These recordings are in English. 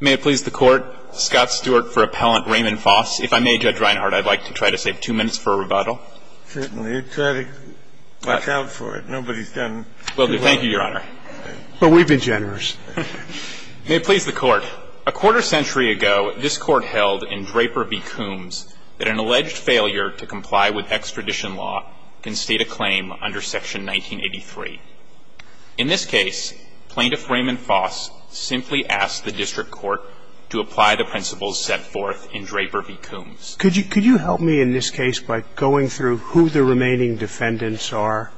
May it please the Court, Scott Stewart for Appellant Raymond Foss. If I may, Judge Reinhardt, I'd like to try to save two minutes for a rebuttal. Certainly. Try to watch out for it. Nobody's done too well. Will do. Thank you, Your Honor. But we've been generous. May it please the Court, a quarter century ago, this Court held in Draper v. Coombs that an alleged failure to comply with extradition law can state a claim under Section 1983. In this case, Plaintiff Raymond Foss simply asked the District Court to apply the principles set forth in Draper v. Coombs. Could you help me in this case by going through who the remaining defendants are?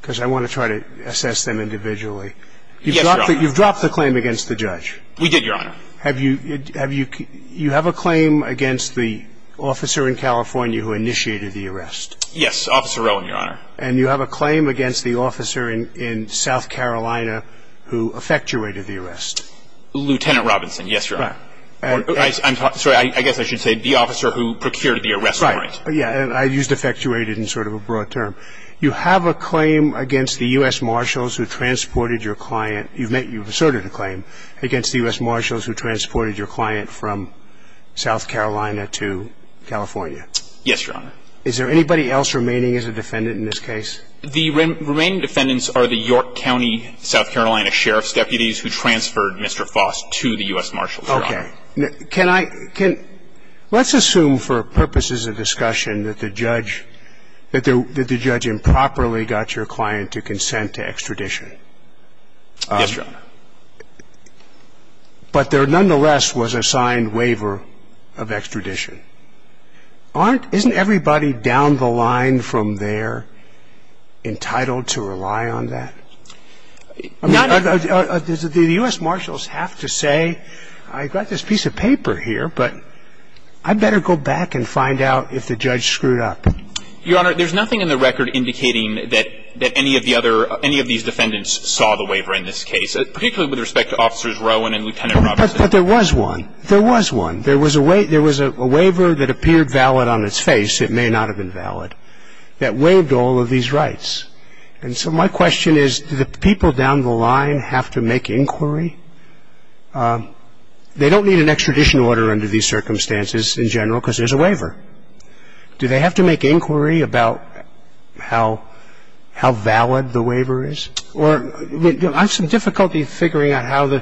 Because I want to try to assess them individually. Yes, Your Honor. You've dropped the claim against the judge. We did, Your Honor. You have a claim against the officer in California who initiated the arrest. Yes, Officer Rowan, Your Honor. And you have a claim against the officer in South Carolina who effectuated the arrest. Lieutenant Robinson, yes, Your Honor. I'm sorry. I guess I should say the officer who procured the arrest warrant. Right. Yeah. And I used effectuated in sort of a broad term. You have a claim against the U.S. Marshals who transported your client. You've asserted a claim against the U.S. Marshals who transported your client from South Carolina to California. Yes, Your Honor. Is there anybody else remaining as a defendant in this case? The remaining defendants are the York County, South Carolina Sheriff's deputies who transferred Mr. Foss to the U.S. Marshals, Your Honor. Okay. Can I – let's assume for purposes of discussion that the judge improperly got your client to consent to extradition. Yes, Your Honor. But there nonetheless was a signed waiver of extradition. Aren't – isn't everybody down the line from there entitled to rely on that? The U.S. Marshals have to say, I've got this piece of paper here, but I'd better go back and find out if the judge screwed up. Your Honor, there's nothing in the record indicating that any of the other – any of these defendants saw the waiver in this case, particularly with respect to Officers Rowan and Lieutenant Robinson. But there was one. There was one. There was one waiver that appeared valid on its face. It may not have been valid, that waived all of these rights. And so my question is, do the people down the line have to make inquiry? They don't need an extradition order under these circumstances in general because there's a waiver. Do they have to make inquiry about how valid the waiver is? I have some difficulty figuring out how the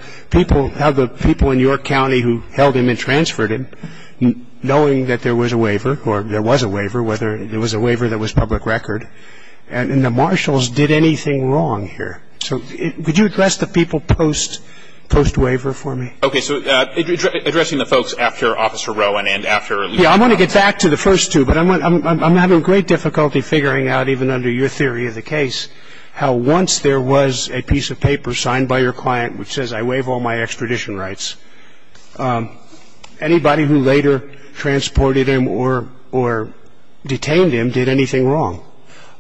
people in York County who held him and transferred him, knowing that there was a waiver, or there was a waiver, whether it was a waiver that was public record, and the Marshals did anything wrong here. So could you address the people post-waiver for me? Okay, so addressing the folks after Officer Rowan and after Lieutenant Robinson. Yeah, I want to get back to the first two, but I'm having great difficulty figuring out, even under your theory of the case, how once there was a piece of paper signed by your client which says, I waive all my extradition rights, anybody who later transported him or detained him did anything wrong?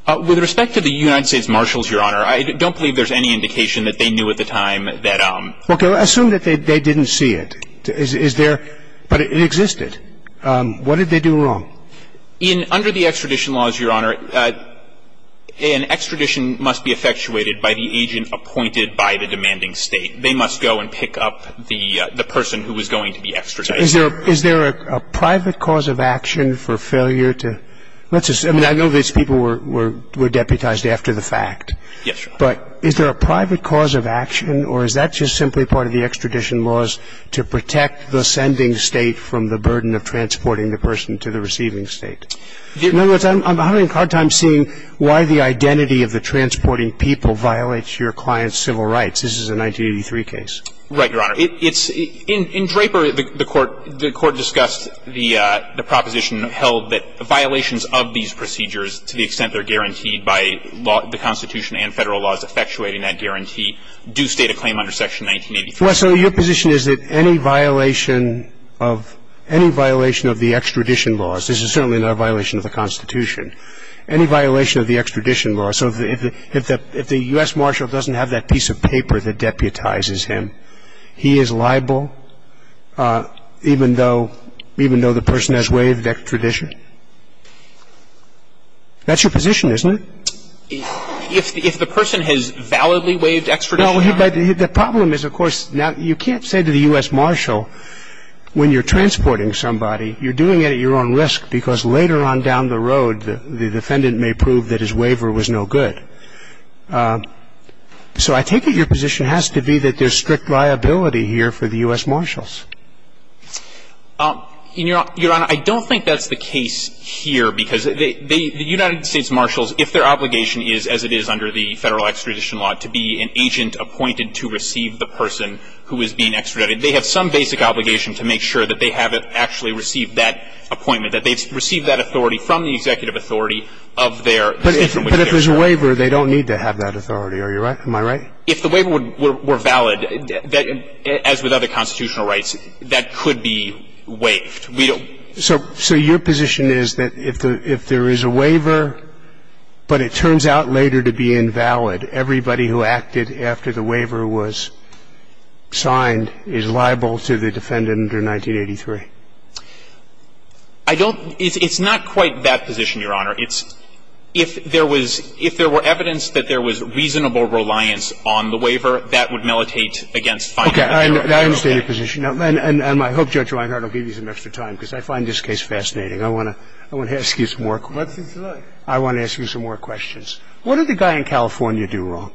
With respect to the United States Marshals, Your Honor, I don't believe there's any indication that they knew at the time that ‑‑ Okay, well, assume that they didn't see it. Is there ‑‑ but it existed. What did they do wrong? Under the extradition laws, Your Honor, an extradition must be effectuated by the agent appointed by the demanding State. They must go and pick up the person who was going to be extradited. Is there a private cause of action for failure to ‑‑ I mean, I know these people were deputized after the fact. Yes, Your Honor. But is there a private cause of action, or is that just simply part of the extradition laws to protect the sending State from the burden of transporting the person to the receiving State? In other words, I'm having a hard time seeing why the identity of the transporting people violates your client's civil rights. This is a 1983 case. Right, Your Honor. In Draper, the court discussed the proposition held that the violations of these procedures, to the extent they're guaranteed by the Constitution and Federal laws effectuating that guarantee, do state a claim under Section 1983. Well, so your position is that any violation of ‑‑ any violation of the extradition laws, this is certainly not a violation of the Constitution, any violation of the extradition laws, so if the U.S. Marshal doesn't have that piece of paper that deputizes him, he is liable even though ‑‑ even though the person has waived extradition? That's your position, isn't it? If the person has validly waived extradition? Well, the problem is, of course, now you can't say to the U.S. Marshal when you're transporting somebody, you're doing it at your own risk because later on down the road the defendant may prove that his waiver was no good. So I take it your position has to be that there's strict liability here for the U.S. Marshals. Your Honor, I don't think that's the case here because the United States Marshals, if their obligation is, as it is under the Federal extradition law, to be an agent appointed to receive the person who is being extradited, they have some basic obligation to make sure that they have actually received that appointment, that they've received that authority from the executive authority of their ‑‑ But if there's a waiver, they don't need to have that authority, am I right? If the waiver were valid, as with other constitutional rights, that could be waived. So your position is that if there is a waiver, but it turns out later to be invalid, everybody who acted after the waiver was signed is liable to the defendant under 1983? I don't ‑‑ it's not quite that position, Your Honor. It's if there was ‑‑ if there were evidence that there was reasonable reliance on the waiver, that would militate against finding ‑‑ I understand your position. And I hope Judge Reinhart will give you some extra time because I find this case fascinating. I want to ask you some more questions. What's it like? I want to ask you some more questions. What did the guy in California do wrong?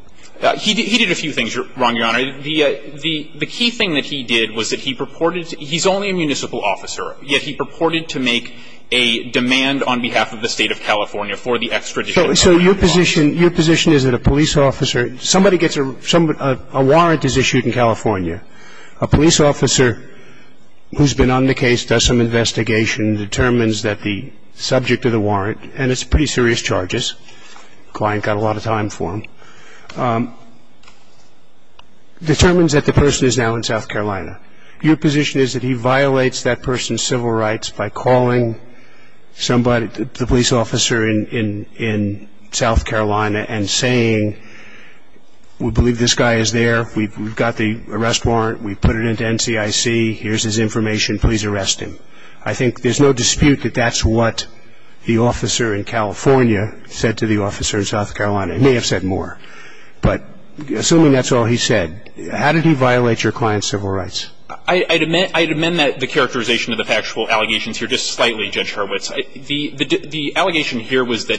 He did a few things wrong, Your Honor. The key thing that he did was that he purported to ‑‑ he's only a municipal officer, yet he purported to make a demand on behalf of the State of California for the extradition. So your position is that a police officer, somebody gets a ‑‑ a warrant is issued in California, a police officer who's been on the case, does some investigation, determines that the subject of the warrant, and it's pretty serious charges, the client got a lot of time for him, determines that the person is now in South Carolina. Your position is that he violates that person's civil rights by calling somebody, the police officer in South Carolina and saying, we believe this guy is there, we've got the arrest warrant, we put it into NCIC, here's his information, please arrest him. I think there's no dispute that that's what the officer in California said to the officer in South Carolina. He may have said more. But assuming that's all he said, how did he violate your client's civil rights? I'd amend the characterization of the factual allegations here just slightly, Judge Hurwitz. Well, let's say it's the same in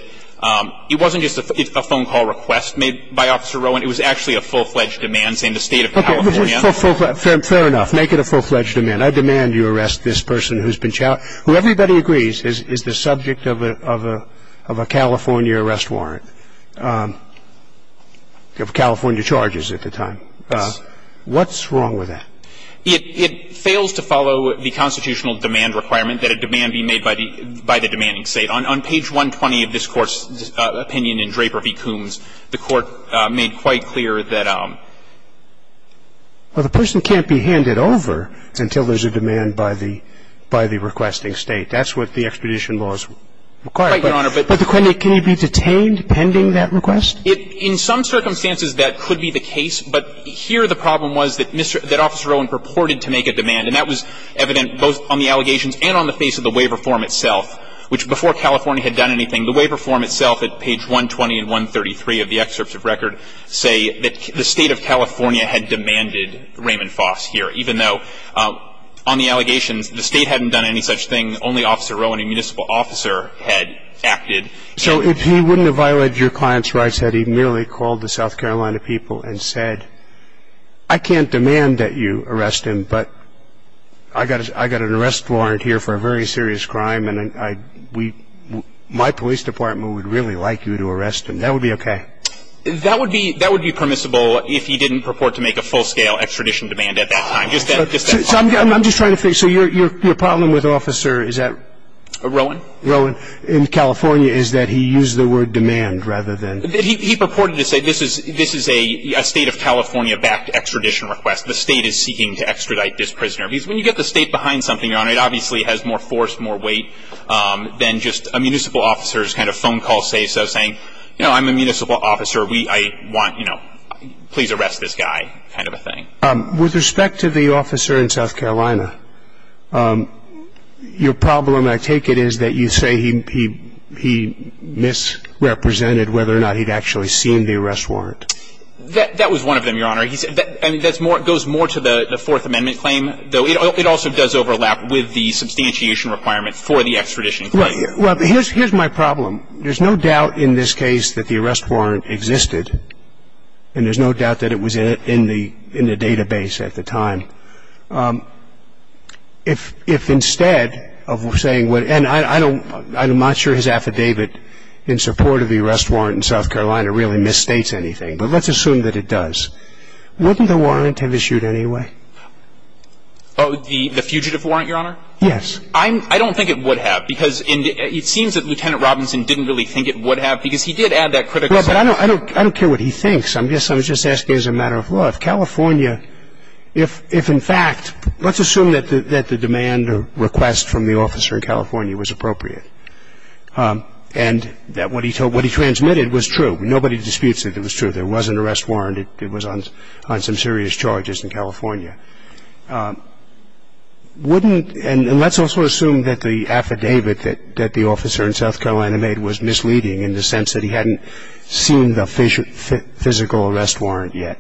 the State of California. Fair enough. Make it a full‑fledged amendment. I demand you arrest this person who's been ‑‑ who everybody agrees is the subject of a California arrest warrant, of California charges at the time. Yes. What's wrong with that? It fails to follow the constitutional demand requirement that a demand be made by the demanding State. On page 120 of this Court's opinion in Draper v. Coombs, the Court made quite clear that ‑‑ Well, the person can't be handed over until there's a demand by the requesting State. That's what the expedition laws require. Right, Your Honor. But can he be detained pending that request? In some circumstances, that could be the case. But here the problem was that Officer Owen purported to make a demand. And that was evident both on the allegations and on the face of the waiver form itself, which before California had done anything, the waiver form itself at page 120 and 133 of the excerpts of record say that the State of California had demanded Raymond Foss here, even though on the allegations the State hadn't done any such thing, only Officer Owen, a municipal officer, had acted. So if he wouldn't have violated your client's rights, had he merely called the South Carolina people and said, I can't demand that you arrest him, but I got an arrest warrant here for a very serious crime, and my police department would really like you to arrest him. That would be okay. That would be permissible if he didn't purport to make a full-scale extradition demand at that time. I'm just trying to think. So your problem with Officer is that? Rowan. Rowan. In California is that he used the word demand rather than. He purported to say this is a State of California-backed extradition request. The State is seeking to extradite this prisoner. Because when you get the State behind something, Your Honor, it obviously has more force, more weight than just a municipal officer's kind of phone call say-so saying, you know, I'm a municipal officer. I want, you know, please arrest this guy kind of a thing. With respect to the officer in South Carolina, your problem, I take it, is that you say he misrepresented whether or not he'd actually seen the arrest warrant. That was one of them, Your Honor. And it goes more to the Fourth Amendment claim. It also does overlap with the substantiation requirement for the extradition claim. Well, here's my problem. There's no doubt in this case that the arrest warrant existed, and there's no doubt that it was in the database at the time. If instead of saying what – and I'm not sure his affidavit in support of the arrest warrant in South Carolina really misstates anything, but let's assume that it does. Wouldn't the warrant have issued anyway? Oh, the fugitive warrant, Your Honor? Yes. I don't think it would have because it seems that Lieutenant Robinson didn't really think it would have because he did add that critical sentence. Well, but I don't care what he thinks. I guess I was just asking as a matter of law. If California – if in fact – let's assume that the demand or request from the officer in California was appropriate and that what he transmitted was true. Nobody disputes that it was true. There was an arrest warrant. It was on some serious charges in California. Wouldn't – and let's also assume that the affidavit that the officer in South Carolina made was misleading in the sense that he hadn't seen the physical arrest warrant yet.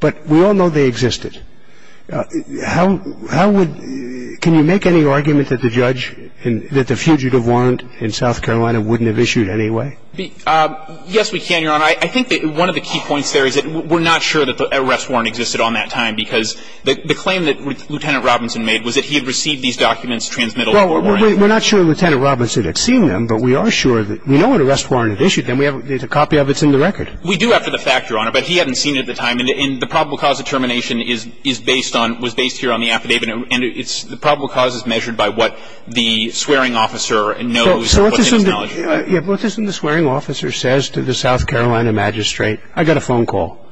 But we all know they existed. How would – can you make any argument that the judge – that the fugitive warrant in South Carolina wouldn't have issued anyway? Yes, we can, Your Honor. I think that one of the key points there is that we're not sure that the arrest warrant existed on that time because the claim that Lieutenant Robinson made was that he had received these documents, transmitted them to a warrant. Well, we're not sure Lieutenant Robinson had seen them, but we are sure that – we know an arrest warrant had issued them. We have a copy of it. It's in the record. We do, after the fact, Your Honor. But he hadn't seen it at the time. And the probable cause of termination is based on – was based here on the affidavit. And it's – the probable cause is measured by what the swearing officer knows and what his knowledge is. Yeah. Well, this is what the swearing officer says to the South Carolina magistrate. I got a phone call.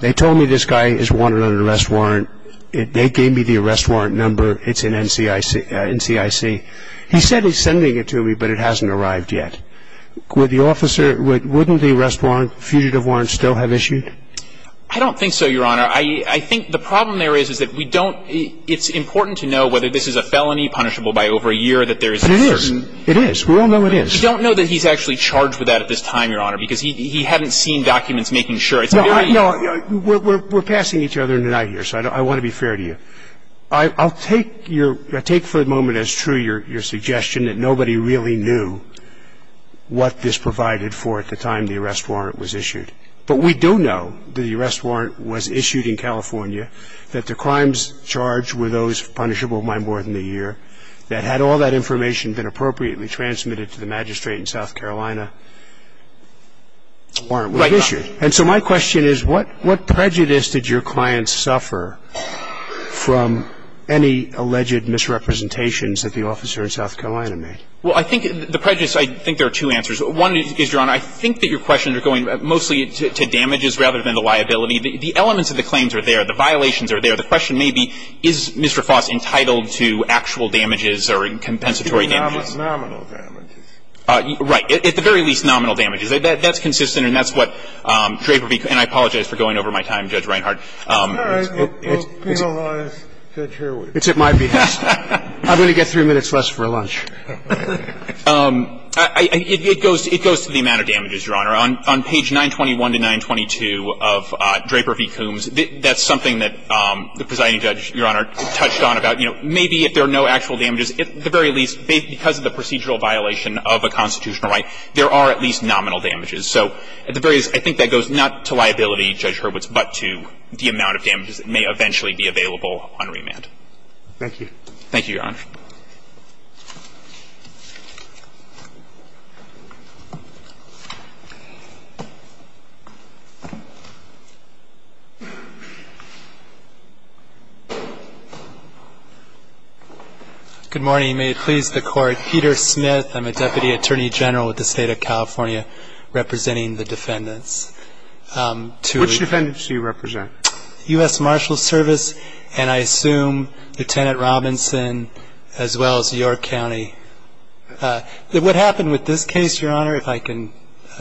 They told me this guy is wanted on an arrest warrant. They gave me the arrest warrant number. It's in NCIC. He said he's sending it to me, but it hasn't arrived yet. Would the officer – wouldn't the arrest warrant – fugitive warrant still have issued? I don't think so, Your Honor. I think the problem there is is that we don't – it's important to know whether this is a felony, punishable by over a year, that there is a certain – You don't know that he's actually charged with that at this time, Your Honor, because he hadn't seen documents making sure. No, no. We're passing each other tonight here, so I want to be fair to you. I'll take your – I'll take for a moment as true your suggestion that nobody really knew what this provided for at the time the arrest warrant was issued. But we do know that the arrest warrant was issued in California, that the crimes charged were those punishable by more than a year, that had all that information been appropriately transmitted to the magistrate in South Carolina, warrant was issued. And so my question is what prejudice did your client suffer from any alleged misrepresentations that the officer in South Carolina made? Well, I think the prejudice – I think there are two answers. One is, Your Honor, I think that your questions are going mostly to damages rather than the liability. The elements of the claims are there. The violations are there. The question may be is Mr. Foss entitled to actual damages or compensatory damages. And the second is that there are no damages, but there are at least nominal damages. Right. At the very least nominal damages. That's consistent, and that's what Draper v. – and I apologize for going over my time, Judge Reinhart. All right. We'll penalize Judge Herwig. It's at my behest. I'm going to get 3 minutes less for lunch. It goes to the amount of damages, Your Honor. On page 921 to 922 of Draper v. Coombs, that's something that the presiding judge, Your Honor, touched on about, you know, maybe if there are no actual damages, at the very least, because of the procedural violation of a constitutional right, there are at least nominal damages. So at the very least, I think that goes not to liability, Judge Hurwitz, but to the amount of damages that may eventually be available on remand. Thank you. Thank you, Your Honor. Good morning. May it please the Court. Peter Smith. I'm a deputy attorney general with the State of California representing the defendants. Which defendants do you represent? U.S. Marshals Service, and I assume Lieutenant Robinson as well as York County. What happened with this case, Your Honor, if I can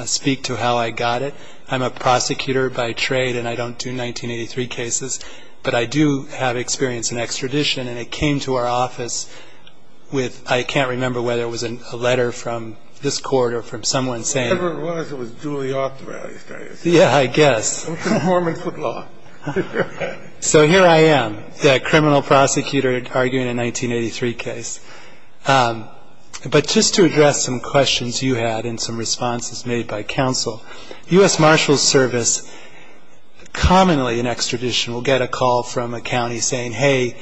speak to how I got it. I'm a prosecutor by trade, and I don't do 1983 cases. But I do have experience in extradition, and it came to our office with, I can't remember whether it was a letter from this court or from someone saying it. Whatever it was, it was duly authorized, I assume. Yeah, I guess. So here I am, the criminal prosecutor arguing a 1983 case. But just to address some questions you had and some responses made by counsel, U.S. Marshals Service commonly in extradition will get a call from a county saying, hey,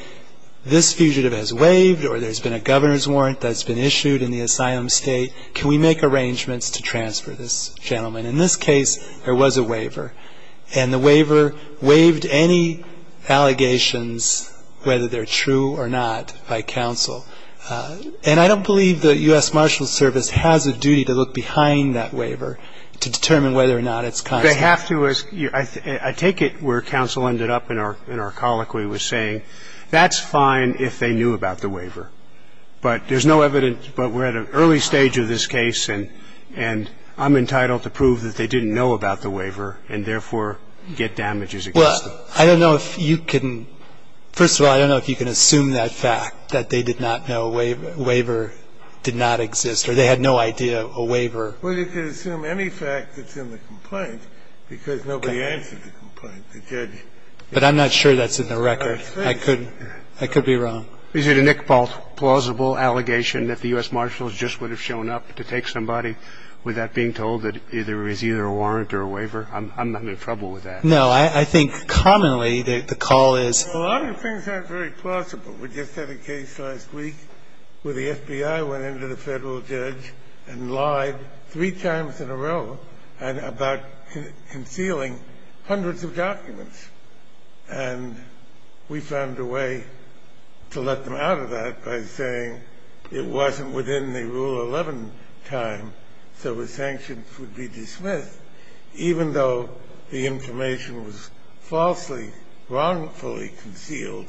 this fugitive has waived or there's been a governor's warrant that's been issued in the asylum state. Can we make arrangements to transfer this gentleman? In this case, there was a waiver. And the waiver waived any allegations, whether they're true or not, by counsel. And I don't believe the U.S. Marshals Service has a duty to look behind that waiver to determine whether or not it's consensual. They have to. I take it where counsel ended up in our colloquy was saying, that's fine if they knew about the waiver. But there's no evidence. But we're at an early stage of this case, and I'm entitled to prove that they didn't know about the waiver and therefore get damages against them. Well, I don't know if you can – first of all, I don't know if you can assume that fact, that they did not know a waiver did not exist or they had no idea a waiver Well, you can assume any fact that's in the complaint because nobody answered the complaint. But I'm not sure that's in the record. I could be wrong. Is it a plausible allegation that the U.S. Marshals just would have shown up to take somebody without being told that there is either a warrant or a waiver? I'm in trouble with that. No, I think commonly the call is A lot of things aren't very plausible. We just had a case last week where the FBI went into the federal judge and lied three times in a row about concealing hundreds of documents. And we found a way to let them out of that by saying it wasn't within the Rule 11 time, so the sanctions would be dismissed, even though the information was falsely, wrongfully concealed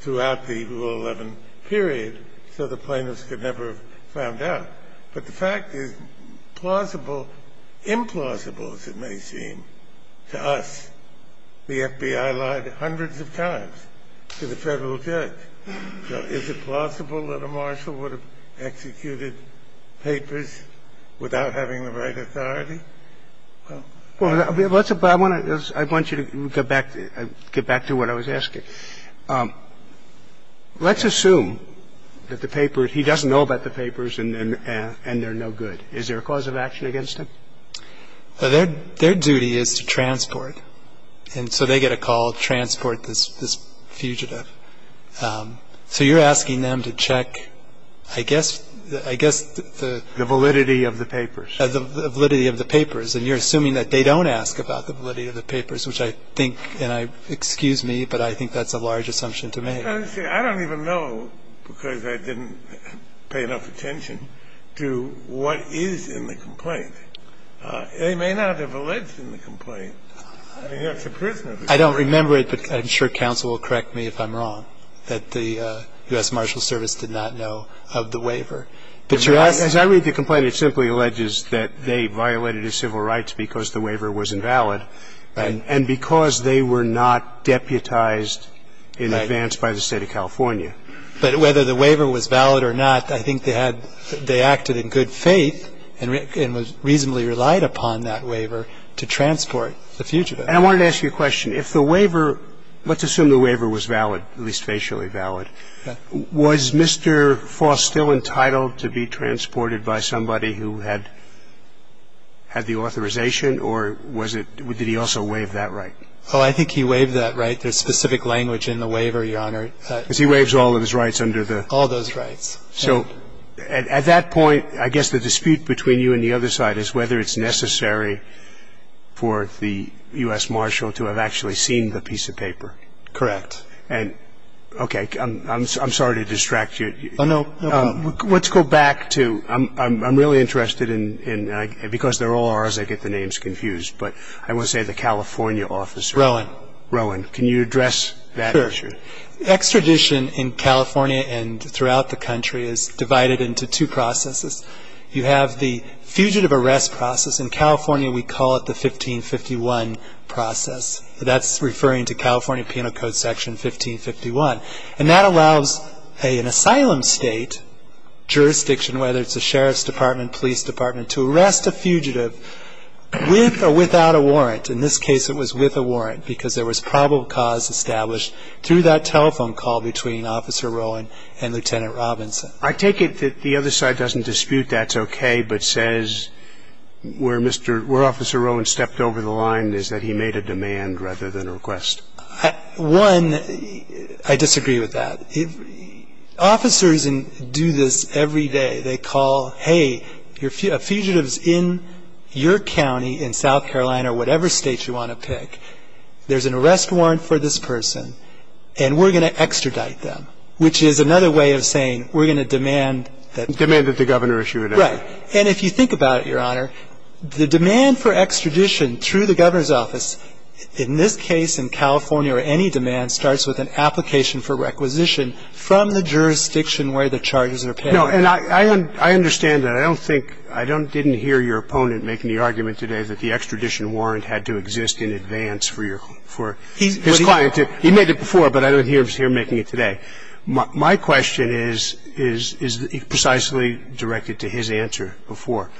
throughout the Rule 11 period, so the plaintiffs could never have found out. But the fact is plausible, implausible as it may seem to us, the FBI lied hundreds of times to the federal judge. So is it plausible that a marshal would have executed papers without having the right authority? Well, I want you to get back to what I was asking. Let's assume that the paper he doesn't know about the papers and they're no good. Is there a cause of action against him? Their duty is to transport. And so they get a call, transport this fugitive. So you're asking them to check I guess, I guess the validity of the papers. The validity of the papers. And you're assuming that they don't ask about the validity of the papers, which I think, and I, excuse me, but I think that's a large assumption to make. I don't even know, because I didn't pay enough attention, to what is in the complaint. They may not have alleged in the complaint. I mean, that's a prisoner. I don't remember it, but I'm sure counsel will correct me if I'm wrong, that the U.S. Marshal Service did not know of the waiver. But you're asking. As I read the complaint, it simply alleges that they violated his civil rights because the waiver was invalid and because they were not deputized in advance by the State of California. But whether the waiver was valid or not, I think they had, they acted in good faith and was reasonably relied upon that waiver to transport the fugitive. And I wanted to ask you a question. If the waiver, let's assume the waiver was valid, at least facially valid, was Mr. Foss still entitled to be transported by somebody who had the authorization or was it, did he also waive that right? Oh, I think he waived that right. There's specific language in the waiver, Your Honor. Because he waives all of his rights under the. All those rights. So at that point, I guess the dispute between you and the other side is whether it's necessary for the U.S. Marshal to have actually seen the piece of paper. Correct. And, okay, I'm sorry to distract you. Oh, no problem. Let's go back to, I'm really interested in, because they're all R's, I get the names confused, but I want to say the California officer. Rowan. Rowan. Can you address that issue? Sure. Extradition in California and throughout the country is divided into two processes. You have the fugitive arrest process. In California, we call it the 1551 process. That's referring to California Penal Code Section 1551. And that allows an asylum state jurisdiction, whether it's a sheriff's department, police department, to arrest a fugitive with or without a warrant. In this case, it was with a warrant because there was probable cause established through that telephone call between Officer Rowan and Lieutenant Robinson. I take it that the other side doesn't dispute that's okay, but says where Officer Rowan stepped over the line is that he made a demand rather than a request. One, I disagree with that. Officers do this every day. They call, hey, a fugitive is in your county in South Carolina or whatever state you want to pick. There's an arrest warrant for this person, and we're going to extradite them, which is another way of saying we're going to demand that. Demand that the governor issue an arrest warrant. Right. And if you think about it, Your Honor, the demand for extradition through the governor's office, in this case in California or any demand, starts with an application for requisition from the jurisdiction where the charges are paid. No, and I understand that. I don't think – I didn't hear your opponent making the argument today that the extradition warrant had to exist in advance for your – for his client to – he made it before, but I don't hear him making it today. My question is precisely directed to his answer before.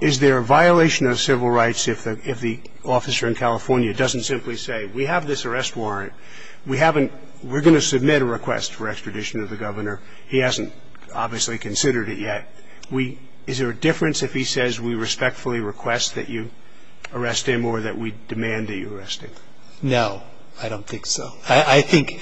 Is there a violation of civil rights if the officer in California doesn't simply say, we have this arrest warrant. We haven't – we're going to submit a request for extradition to the governor. He hasn't obviously considered it yet. Is there a difference if he says we respectfully request that you arrest him or that we demand that you arrest him? No, I don't think so. I think,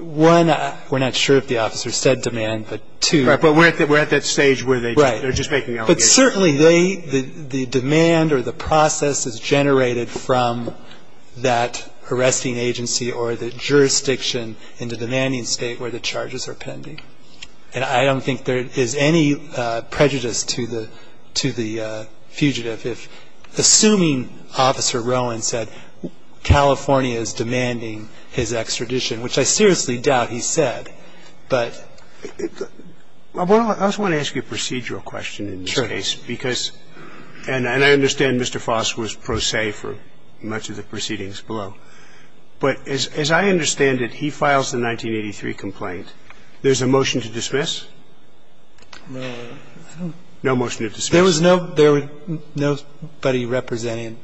one, we're not sure if the officer said demand, but two – Right, but we're at that stage where they're just making allegations. But certainly they – the demand or the process is generated from that arresting agency or the jurisdiction in the demanding state where the charges are pending. And I don't think there is any prejudice to the – to the fugitive. If – assuming Officer Rowan said California is demanding his extradition, which I seriously doubt he said, but – Well, I just want to ask you a procedural question in this case because – Sure. And I understand Mr. Foss was pro se for much of the proceedings below. But as I understand it, he files the 1983 complaint. No. No motion to dismiss. There was no – there was nobody representing him.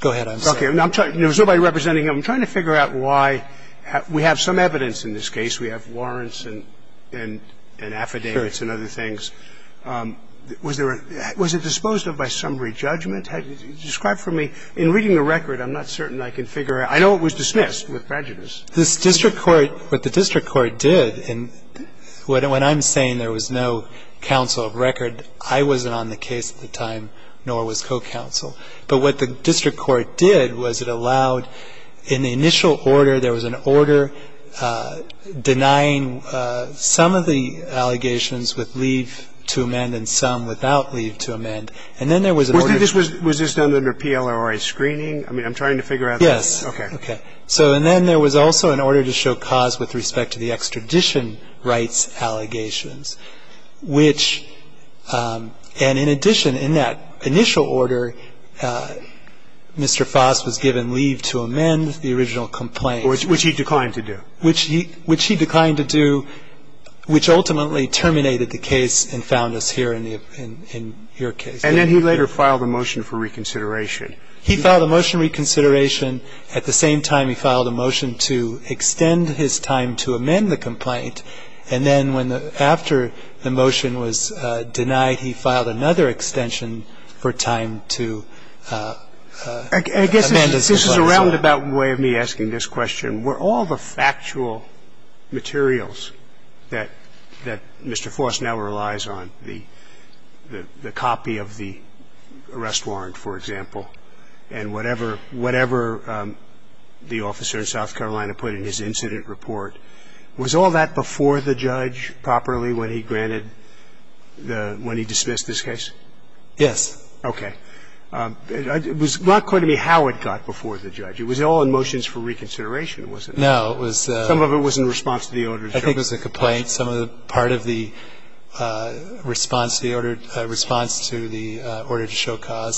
Go ahead, I'm sorry. Okay. There was nobody representing him. I'm trying to figure out why – we have some evidence in this case. We have warrants and affidavits and other things. Sure. Was there a – was it disposed of by summary judgment? Describe for me – in reading the record, I'm not certain I can figure out. I know it was dismissed with prejudice. This district court – what the district court did in – when I'm saying there was no counsel of record, I wasn't on the case at the time, nor was co-counsel. But what the district court did was it allowed – in the initial order, there was an order denying some of the allegations with leave to amend and some without leave to amend. And then there was an order – Was this done under PLRA screening? I mean, I'm trying to figure out – Yes. Okay. Okay. So – and then there was also an order to show cause with respect to the extradition rights allegations, which – and in addition, in that initial order, Mr. Foss was given leave to amend the original complaint. Which he declined to do. Which he – which he declined to do, which ultimately terminated the case and found us here in the – in your case. And then he later filed a motion for reconsideration. He filed a motion for reconsideration. At the same time, he filed a motion to extend his time to amend the complaint. And then when the – after the motion was denied, he filed another extension for time to amend his complaint. I guess this is a roundabout way of me asking this question. Were all the factual materials that Mr. Foss now relies on, the copy of the arrest warrant, for example, and whatever – whatever the officer in South Carolina put in his incident report, was all that before the judge properly when he granted the – when he dismissed this case? Yes. Okay. It was not clear to me how it got before the judge. It was all in motions for reconsideration, was it? No, it was – Some of it was in response to the order to show cause. I think it was a complaint.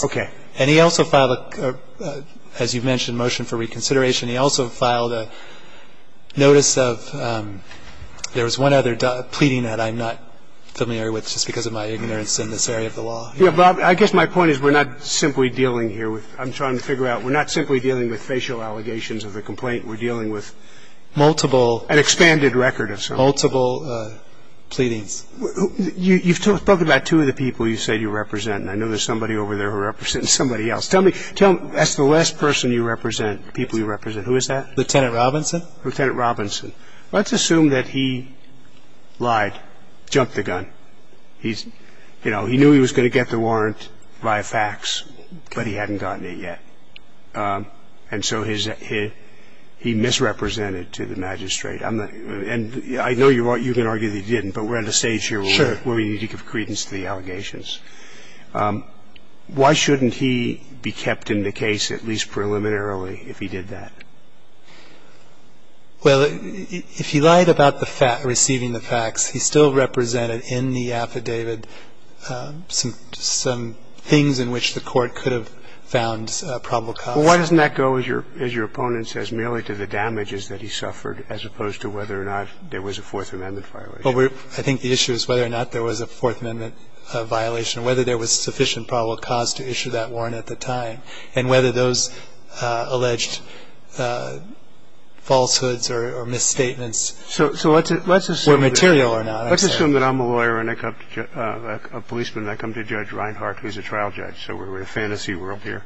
Okay. And he also filed a – as you mentioned, motion for reconsideration. He also filed a notice of – there was one other pleading that I'm not familiar with just because of my ignorance in this area of the law. Yes, Bob. I guess my point is we're not simply dealing here with – I'm trying to figure out. We're not simply dealing with facial allegations of a complaint. We're dealing with multiple – An expanded record of something. Multiple pleadings. You've spoken about two of the people you said you represent, and I know there's somebody over there who represents somebody else. Tell me – that's the last person you represent, people you represent. Who is that? Lieutenant Robinson. Lieutenant Robinson. Let's assume that he lied, jumped the gun. He's – you know, he knew he was going to get the warrant via fax, but he hadn't gotten it yet. And so his – he misrepresented to the magistrate. And I know you can argue that he didn't, but we're at a stage here where we need to give credence to the allegations. Why shouldn't he be kept in the case, at least preliminarily, if he did that? Well, if he lied about receiving the fax, he still represented in the affidavit some things in which the court could have found probable cause. Well, why doesn't that go, as your opponent says, merely to the damages that he received, as opposed to whether or not there was a Fourth Amendment violation? I think the issue is whether or not there was a Fourth Amendment violation, whether there was sufficient probable cause to issue that warrant at the time, and whether those alleged falsehoods or misstatements were material or not. Let's assume that I'm a lawyer and I come to – a policeman and I come to Judge Reinhart, who's a trial judge, so we're in a fantasy world here.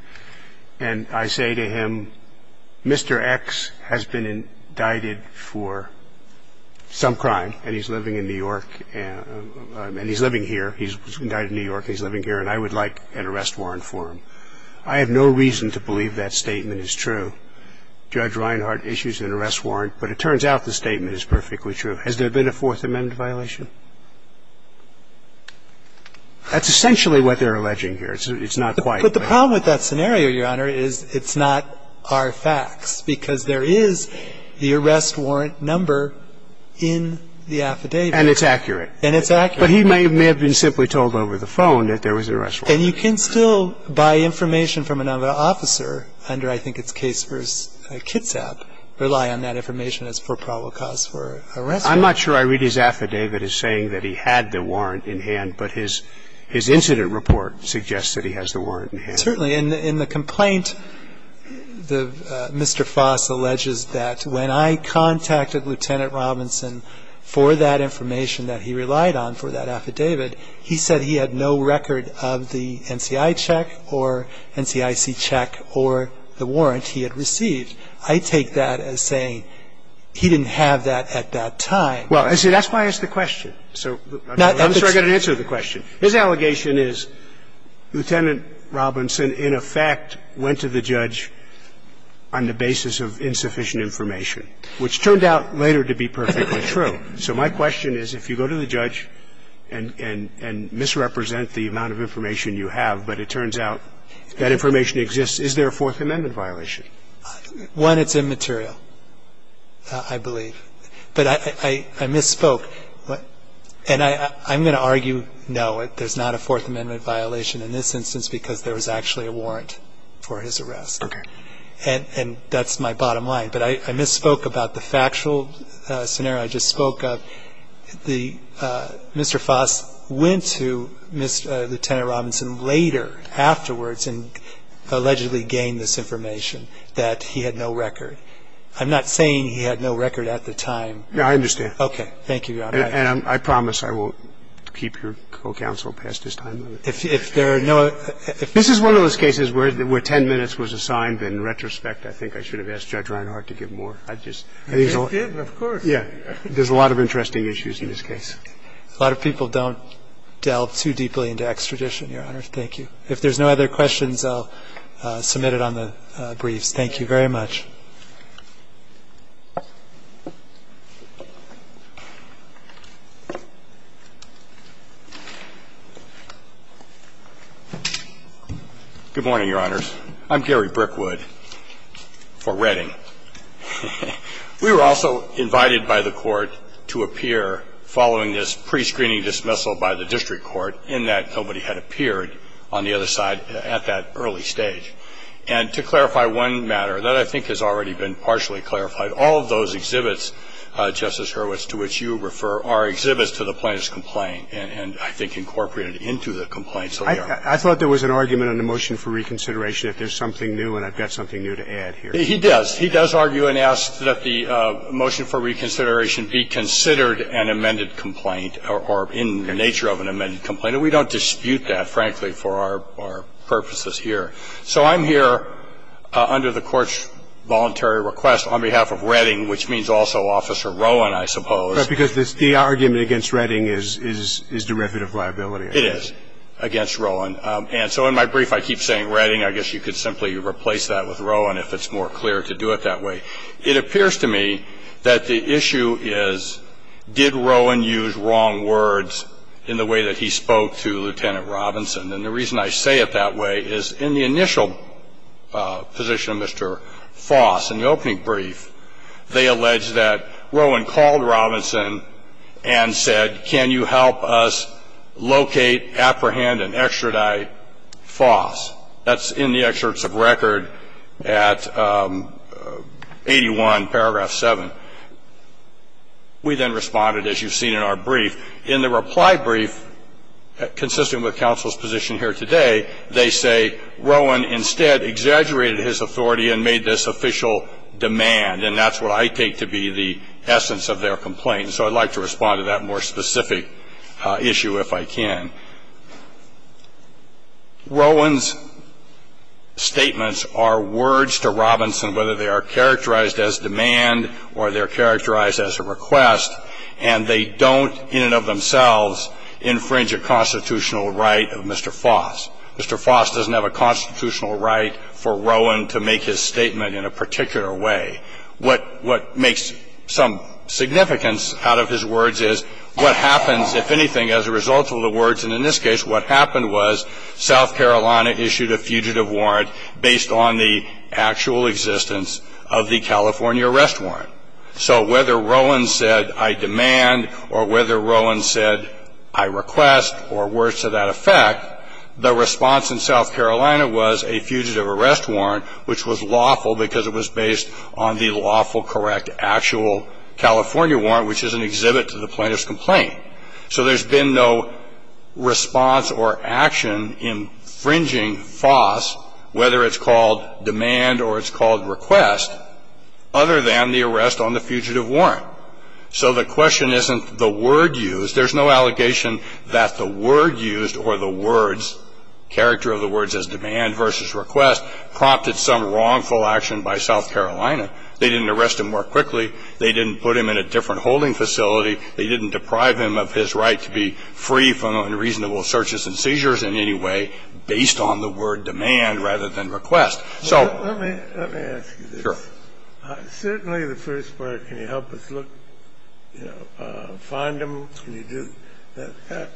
And I say to him, Mr. X has been indicted for some crime and he's living in New York and he's living here, he's indicted in New York, he's living here, and I would like an arrest warrant for him. I have no reason to believe that statement is true. Judge Reinhart issues an arrest warrant, but it turns out the statement is perfectly true. Has there been a Fourth Amendment violation? That's essentially what they're alleging here. It's not quite. But the problem with that scenario, Your Honor, is it's not our facts, because there is the arrest warrant number in the affidavit. And it's accurate. And it's accurate. But he may have been simply told over the phone that there was an arrest warrant. And you can still, by information from another officer, under I think it's Case v. Kitsap, rely on that information as for probable cause for arrest warrant. I'm not sure I read his affidavit as saying that he had the warrant in hand, but his incident report suggests that he has the warrant in hand. Certainly. In the complaint, Mr. Foss alleges that when I contacted Lieutenant Robinson for that information that he relied on for that affidavit, he said he had no record of the NCI check or NCIC check or the warrant he had received. I take that as saying he didn't have that at that time. Well, see, that's why I asked the question. So I'm not sure I got an answer to the question. His allegation is Lieutenant Robinson, in effect, went to the judge on the basis of insufficient information, which turned out later to be perfectly true. So my question is, if you go to the judge and misrepresent the amount of information you have, but it turns out that information exists, is there a Fourth Amendment violation? One, it's immaterial, I believe. But I misspoke. And I'm going to argue no, there's not a Fourth Amendment violation in this instance because there was actually a warrant for his arrest. Okay. And that's my bottom line. But I misspoke about the factual scenario I just spoke of. Mr. Foss went to Lieutenant Robinson later afterwards and allegedly gained this information that he had no record. I'm not saying he had no record at the time. No, I understand. Thank you, Your Honor. And I promise I won't keep your co-counsel past his time. If there are no other ---- This is one of those cases where 10 minutes was assigned, and in retrospect, I think I should have asked Judge Reinhart to give more. I just ---- You did, of course. Yeah. There's a lot of interesting issues in this case. A lot of people don't delve too deeply into extradition, Your Honor. Thank you. If there's no other questions, I'll submit it on the briefs. Thank you very much. Good morning, Your Honors. I'm Gary Brickwood for Redding. We were also invited by the Court to appear following this prescreening dismissal by the district court in that nobody had appeared on the other side at that early stage. And to clarify one matter that I think has already been partially clarified, all of those exhibits, Justice Hurwitz, to which you refer, are exhibits to the plaintiff's complaint and I think incorporated into the complaint. I thought there was an argument on the motion for reconsideration if there's something new, and I've got something new to add here. He does. He does argue and ask that the motion for reconsideration be considered an amended complaint or in the nature of an amended complaint. And we don't dispute that, frankly, for our purposes here. So I'm here under the Court's voluntary request on behalf of Redding, which means also Officer Rowan, I suppose. Because the argument against Redding is derivative liability. It is against Rowan. And so in my brief, I keep saying Redding. I guess you could simply replace that with Rowan if it's more clear to do it that way. It appears to me that the issue is did Rowan use wrong words in the way that he spoke to Lieutenant Robinson. And the reason I say it that way is in the initial position of Mr. Foss, in the opening brief, they allege that Rowan called Robinson and said, can you help us locate, apprehend, and extradite Foss. That's in the excerpts of record at 81, paragraph 7. We then responded, as you've seen in our brief. In the reply brief, consistent with counsel's position here today, they say Rowan instead exaggerated his authority and made this official demand. And that's what I take to be the essence of their complaint. So I'd like to respond to that more specific issue if I can. Rowan's statements are words to Robinson, whether they are characterized as demand or they're characterized as a request. And they don't in and of themselves infringe a constitutional right of Mr. Foss. Mr. Foss doesn't have a constitutional right for Rowan to make his statement in a particular way. What makes some significance out of his words is what happens, if anything, as a result of the words. And in this case, what happened was South Carolina issued a fugitive warrant based on the actual existence of the California arrest warrant. So whether Rowan said, I demand, or whether Rowan said, I request, or words to that effect, the response in South Carolina was a fugitive arrest warrant, which was lawful because it was based on the lawful correct actual California warrant, which is an exhibit to the plaintiff's complaint. So there's been no response or action infringing Foss, whether it's called demand or it's called request, other than the arrest on the fugitive warrant. So the question isn't the word used. There's no allegation that the word used or the words, character of the words as demand versus request, prompted some wrongful action by South Carolina. They didn't arrest him more quickly. They didn't put him in a different holding facility. They didn't deprive him of his right to be free from unreasonable searches and seizures in any way based on the word demand rather than request. So, sure. Scalia. Let me ask you this. Certainly the first part, can you help us look, you know, find him, can you do that?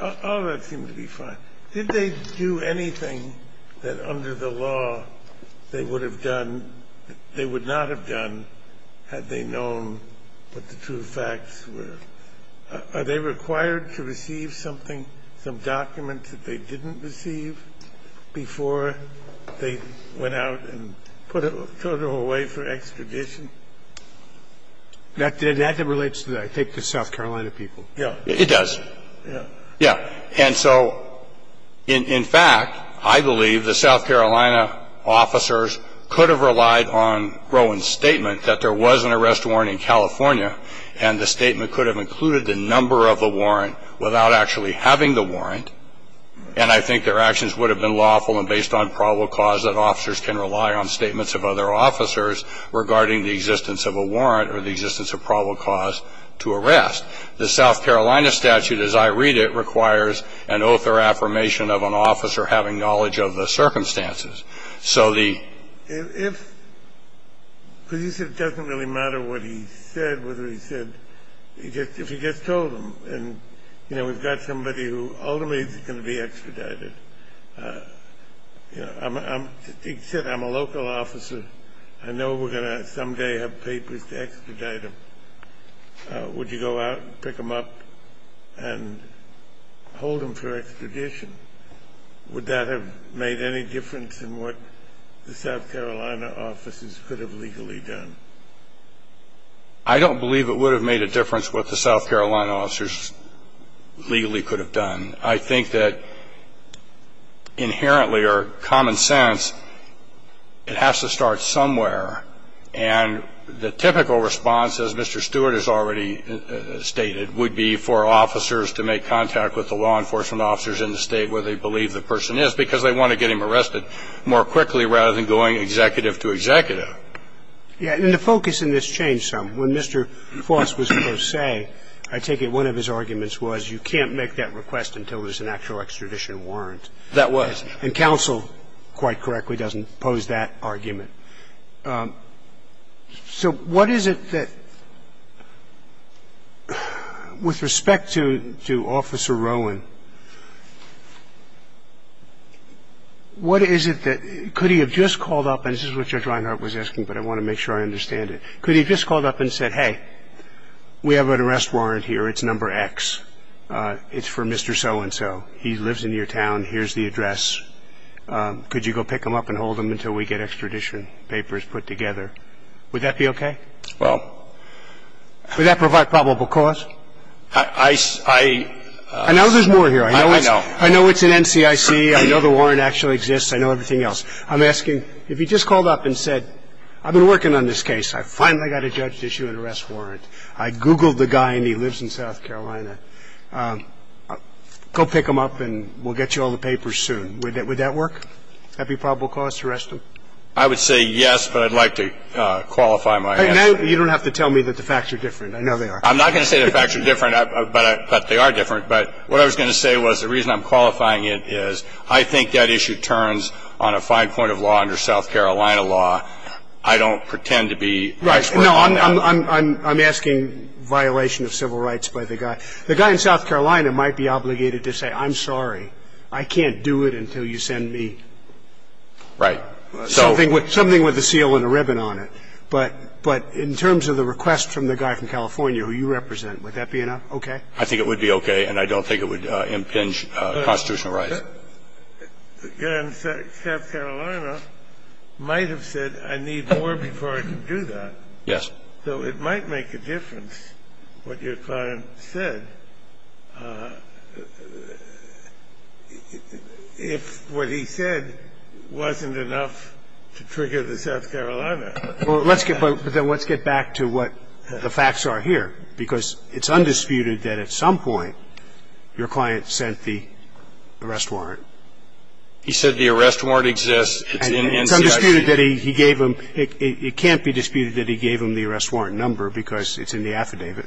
All of that seemed to be fine. Did they do anything that under the law they would have done, they would not have done had they known what the true facts were? Are they required to receive something, some documents that they didn't receive before they went out and put him away for extradition? That relates to, I think, the South Carolina people. Yeah. It does. Yeah. And so, in fact, I believe the South Carolina officers could have relied on Rowan's statement that there was an arrest warrant in California and the statement could have included the number of the warrant without actually having the warrant, and I think their actions would have been lawful and based on probable cause that officers can rely on statements of other officers regarding the existence of a warrant or the existence of probable cause to arrest. The South Carolina statute, as I read it, requires an oath or affirmation of an officer having knowledge of the circumstances. So the – If – because you said it doesn't really matter what he said, whether he said – if he gets told and, you know, we've got somebody who ultimately is going to be extradited. You know, he said, I'm a local officer. I know we're going to someday have papers to extradite him. Would you go out and pick him up and hold him for extradition? Would that have made any difference in what the South Carolina officers could have legally done? I don't believe it would have made a difference what the South Carolina officers legally could have done. I think that inherently or common sense, it has to start somewhere, and the typical response, as Mr. Stewart has already stated, would be for officers to make contact with the law enforcement officers in the State where they believe the person is because they want to get him arrested more quickly rather than going executive to executive. Yeah. And the focus in this changed some. When Mr. Foss was first saying, I take it one of his arguments was you can't make that request until there's an actual extradition warrant. That was. And counsel, quite correctly, doesn't pose that argument. So what is it that, with respect to Officer Rowan, what is it that could he have just called up, and this is what Judge Reinhart was asking, but I want to make sure I understand it. Could he have just called up and said, hey, we have an arrest warrant here. It's number X. It's for Mr. So-and-so. He lives in your town. Here's the address. Could you go pick him up and hold him until we get extradition papers put together? Would that be okay? Well. Would that provide probable cause? I know there's more here. I know it's in NCIC. I know the warrant actually exists. I know everything else. I'm asking, if he just called up and said, I've been working on this case. I finally got a judge's issue and arrest warrant. I Googled the guy, and he lives in South Carolina. Go pick him up, and we'll get you all the papers soon. Would that work? Would that be probable cause to arrest him? I would say yes, but I'd like to qualify my answer. You don't have to tell me that the facts are different. I know they are. I'm not going to say the facts are different, but they are different. But what I was going to say was the reason I'm qualifying it is I think that issue turns on a fine point of law under South Carolina law. I don't pretend to be expert on that. Right. No, I'm asking violation of civil rights by the guy. The guy in South Carolina might be obligated to say, I'm sorry. I can't do it until you send me something with a seal and a ribbon on it. But in terms of the request from the guy from California who you represent, would that be okay? I think it would be okay, and I don't think it would impinge constitutional rights. The guy in South Carolina might have said, I need more before I can do that. Yes. So it might make a difference what your client said if what he said wasn't enough to trigger the South Carolina. Well, let's get back to what the facts are here, because it's undisputed that at some point your client sent the arrest warrant. He said the arrest warrant exists. It's in NCIC. It's undisputed that he gave them. It can't be disputed that he gave them the arrest warrant number because it's in the affidavit.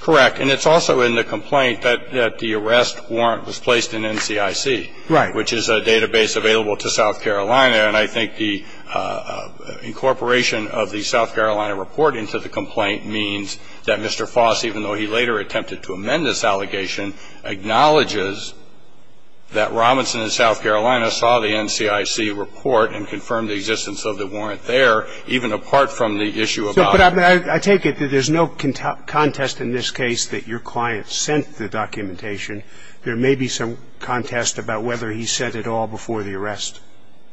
Correct. And it's also in the complaint that the arrest warrant was placed in NCIC. Right. Which is a database available to South Carolina. And I think the incorporation of the South Carolina reporting to the complaint means that Mr. Foss, even though he later attempted to amend this allegation, acknowledges that Robinson in South Carolina saw the NCIC report and confirmed the existence of the warrant there, even apart from the issue about the warrant. But I take it that there's no contest in this case that your client sent the documentation. There may be some contest about whether he sent it all before the arrest.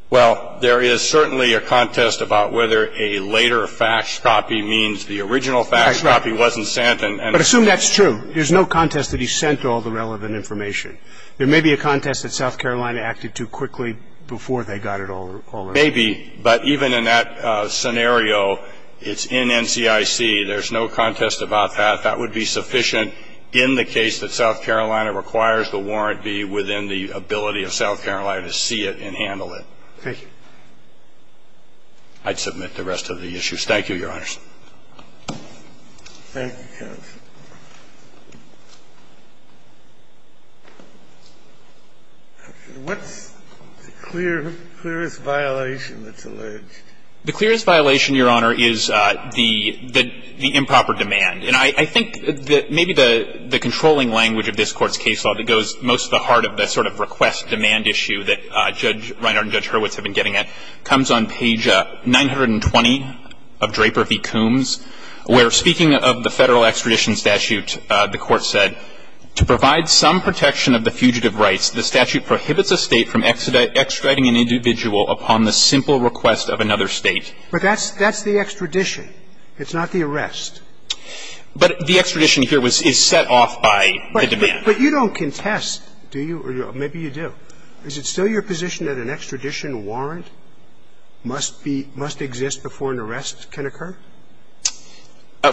Well, there is certainly a contest about whether a later fax copy means the original fax copy wasn't sent. But assume that's true. There's no contest that he sent all the relevant information. There may be a contest that South Carolina acted too quickly before they got it all in. Maybe. But even in that scenario, it's in NCIC. There's no contest about that. That would be sufficient in the case that South Carolina requires the warrant be within the ability of South Carolina to see it and handle it. Thank you. I'd submit the rest of the issues. Thank you, Your Honors. Thank you, counsel. What's the clearest violation that's alleged? The clearest violation, Your Honor, is the improper demand. And I think that maybe the controlling language of this Court's case law that goes most to the heart of the sort of request-demand issue that Judge Reinhardt and Judge Verbergen and Judge Kagan have been discussing, is that the Federal extradition statute, the F.B.C.C.E.C.M.E.S. where, speaking of the Federal extradition statute, the Court said, to provide some protection of the fugitive rights, the statute prohibits a State from extraditing an individual upon the simple request of another State. But that's the extradition. It's not the arrest. But the extradition here is set off by the demand. But you don't contest, do you? Maybe you do. Is it still your position that an extradition warrant must be, must exist before an arrest can occur?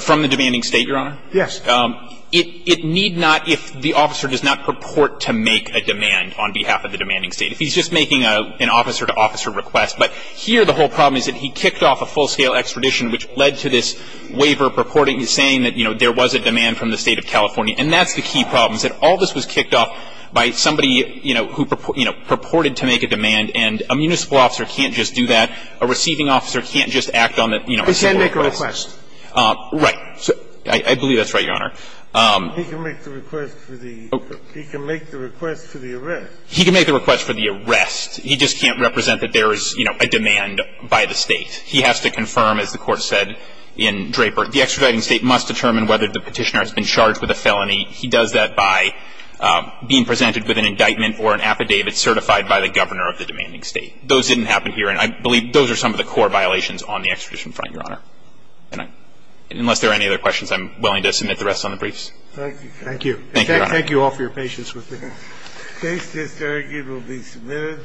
From the demanding State, Your Honor? Yes. It need not, if the officer does not purport to make a demand on behalf of the demanding State, if he's just making an officer-to-officer request. But here the whole problem is that he kicked off a full-scale extradition, which led to this waiver purporting, saying that, you know, there was a demand from the State of California. And that's the key problem, is that all this was kicked off by somebody, you know, who, you know, purported to make a demand. And a municipal officer can't just do that. A receiving officer can't just act on the, you know, simple request. He can't make a request. Right. I believe that's right, Your Honor. He can make the request for the arrest. He can make the request for the arrest. He just can't represent that there is, you know, a demand by the State. He has to confirm, as the Court said in Draper, the extraditing State must determine whether the Petitioner has been charged with a felony. He does that by being presented with an indictment or an affidavit certified by the Governor of the demanding State. Those didn't happen here, and I believe those are some of the core violations on the extradition front, Your Honor. And unless there are any other questions, I'm willing to submit the rest on the briefs. Thank you. Thank you. Thank you, Your Honor. Thank you all for your patience with me. The case disargued will be submitted.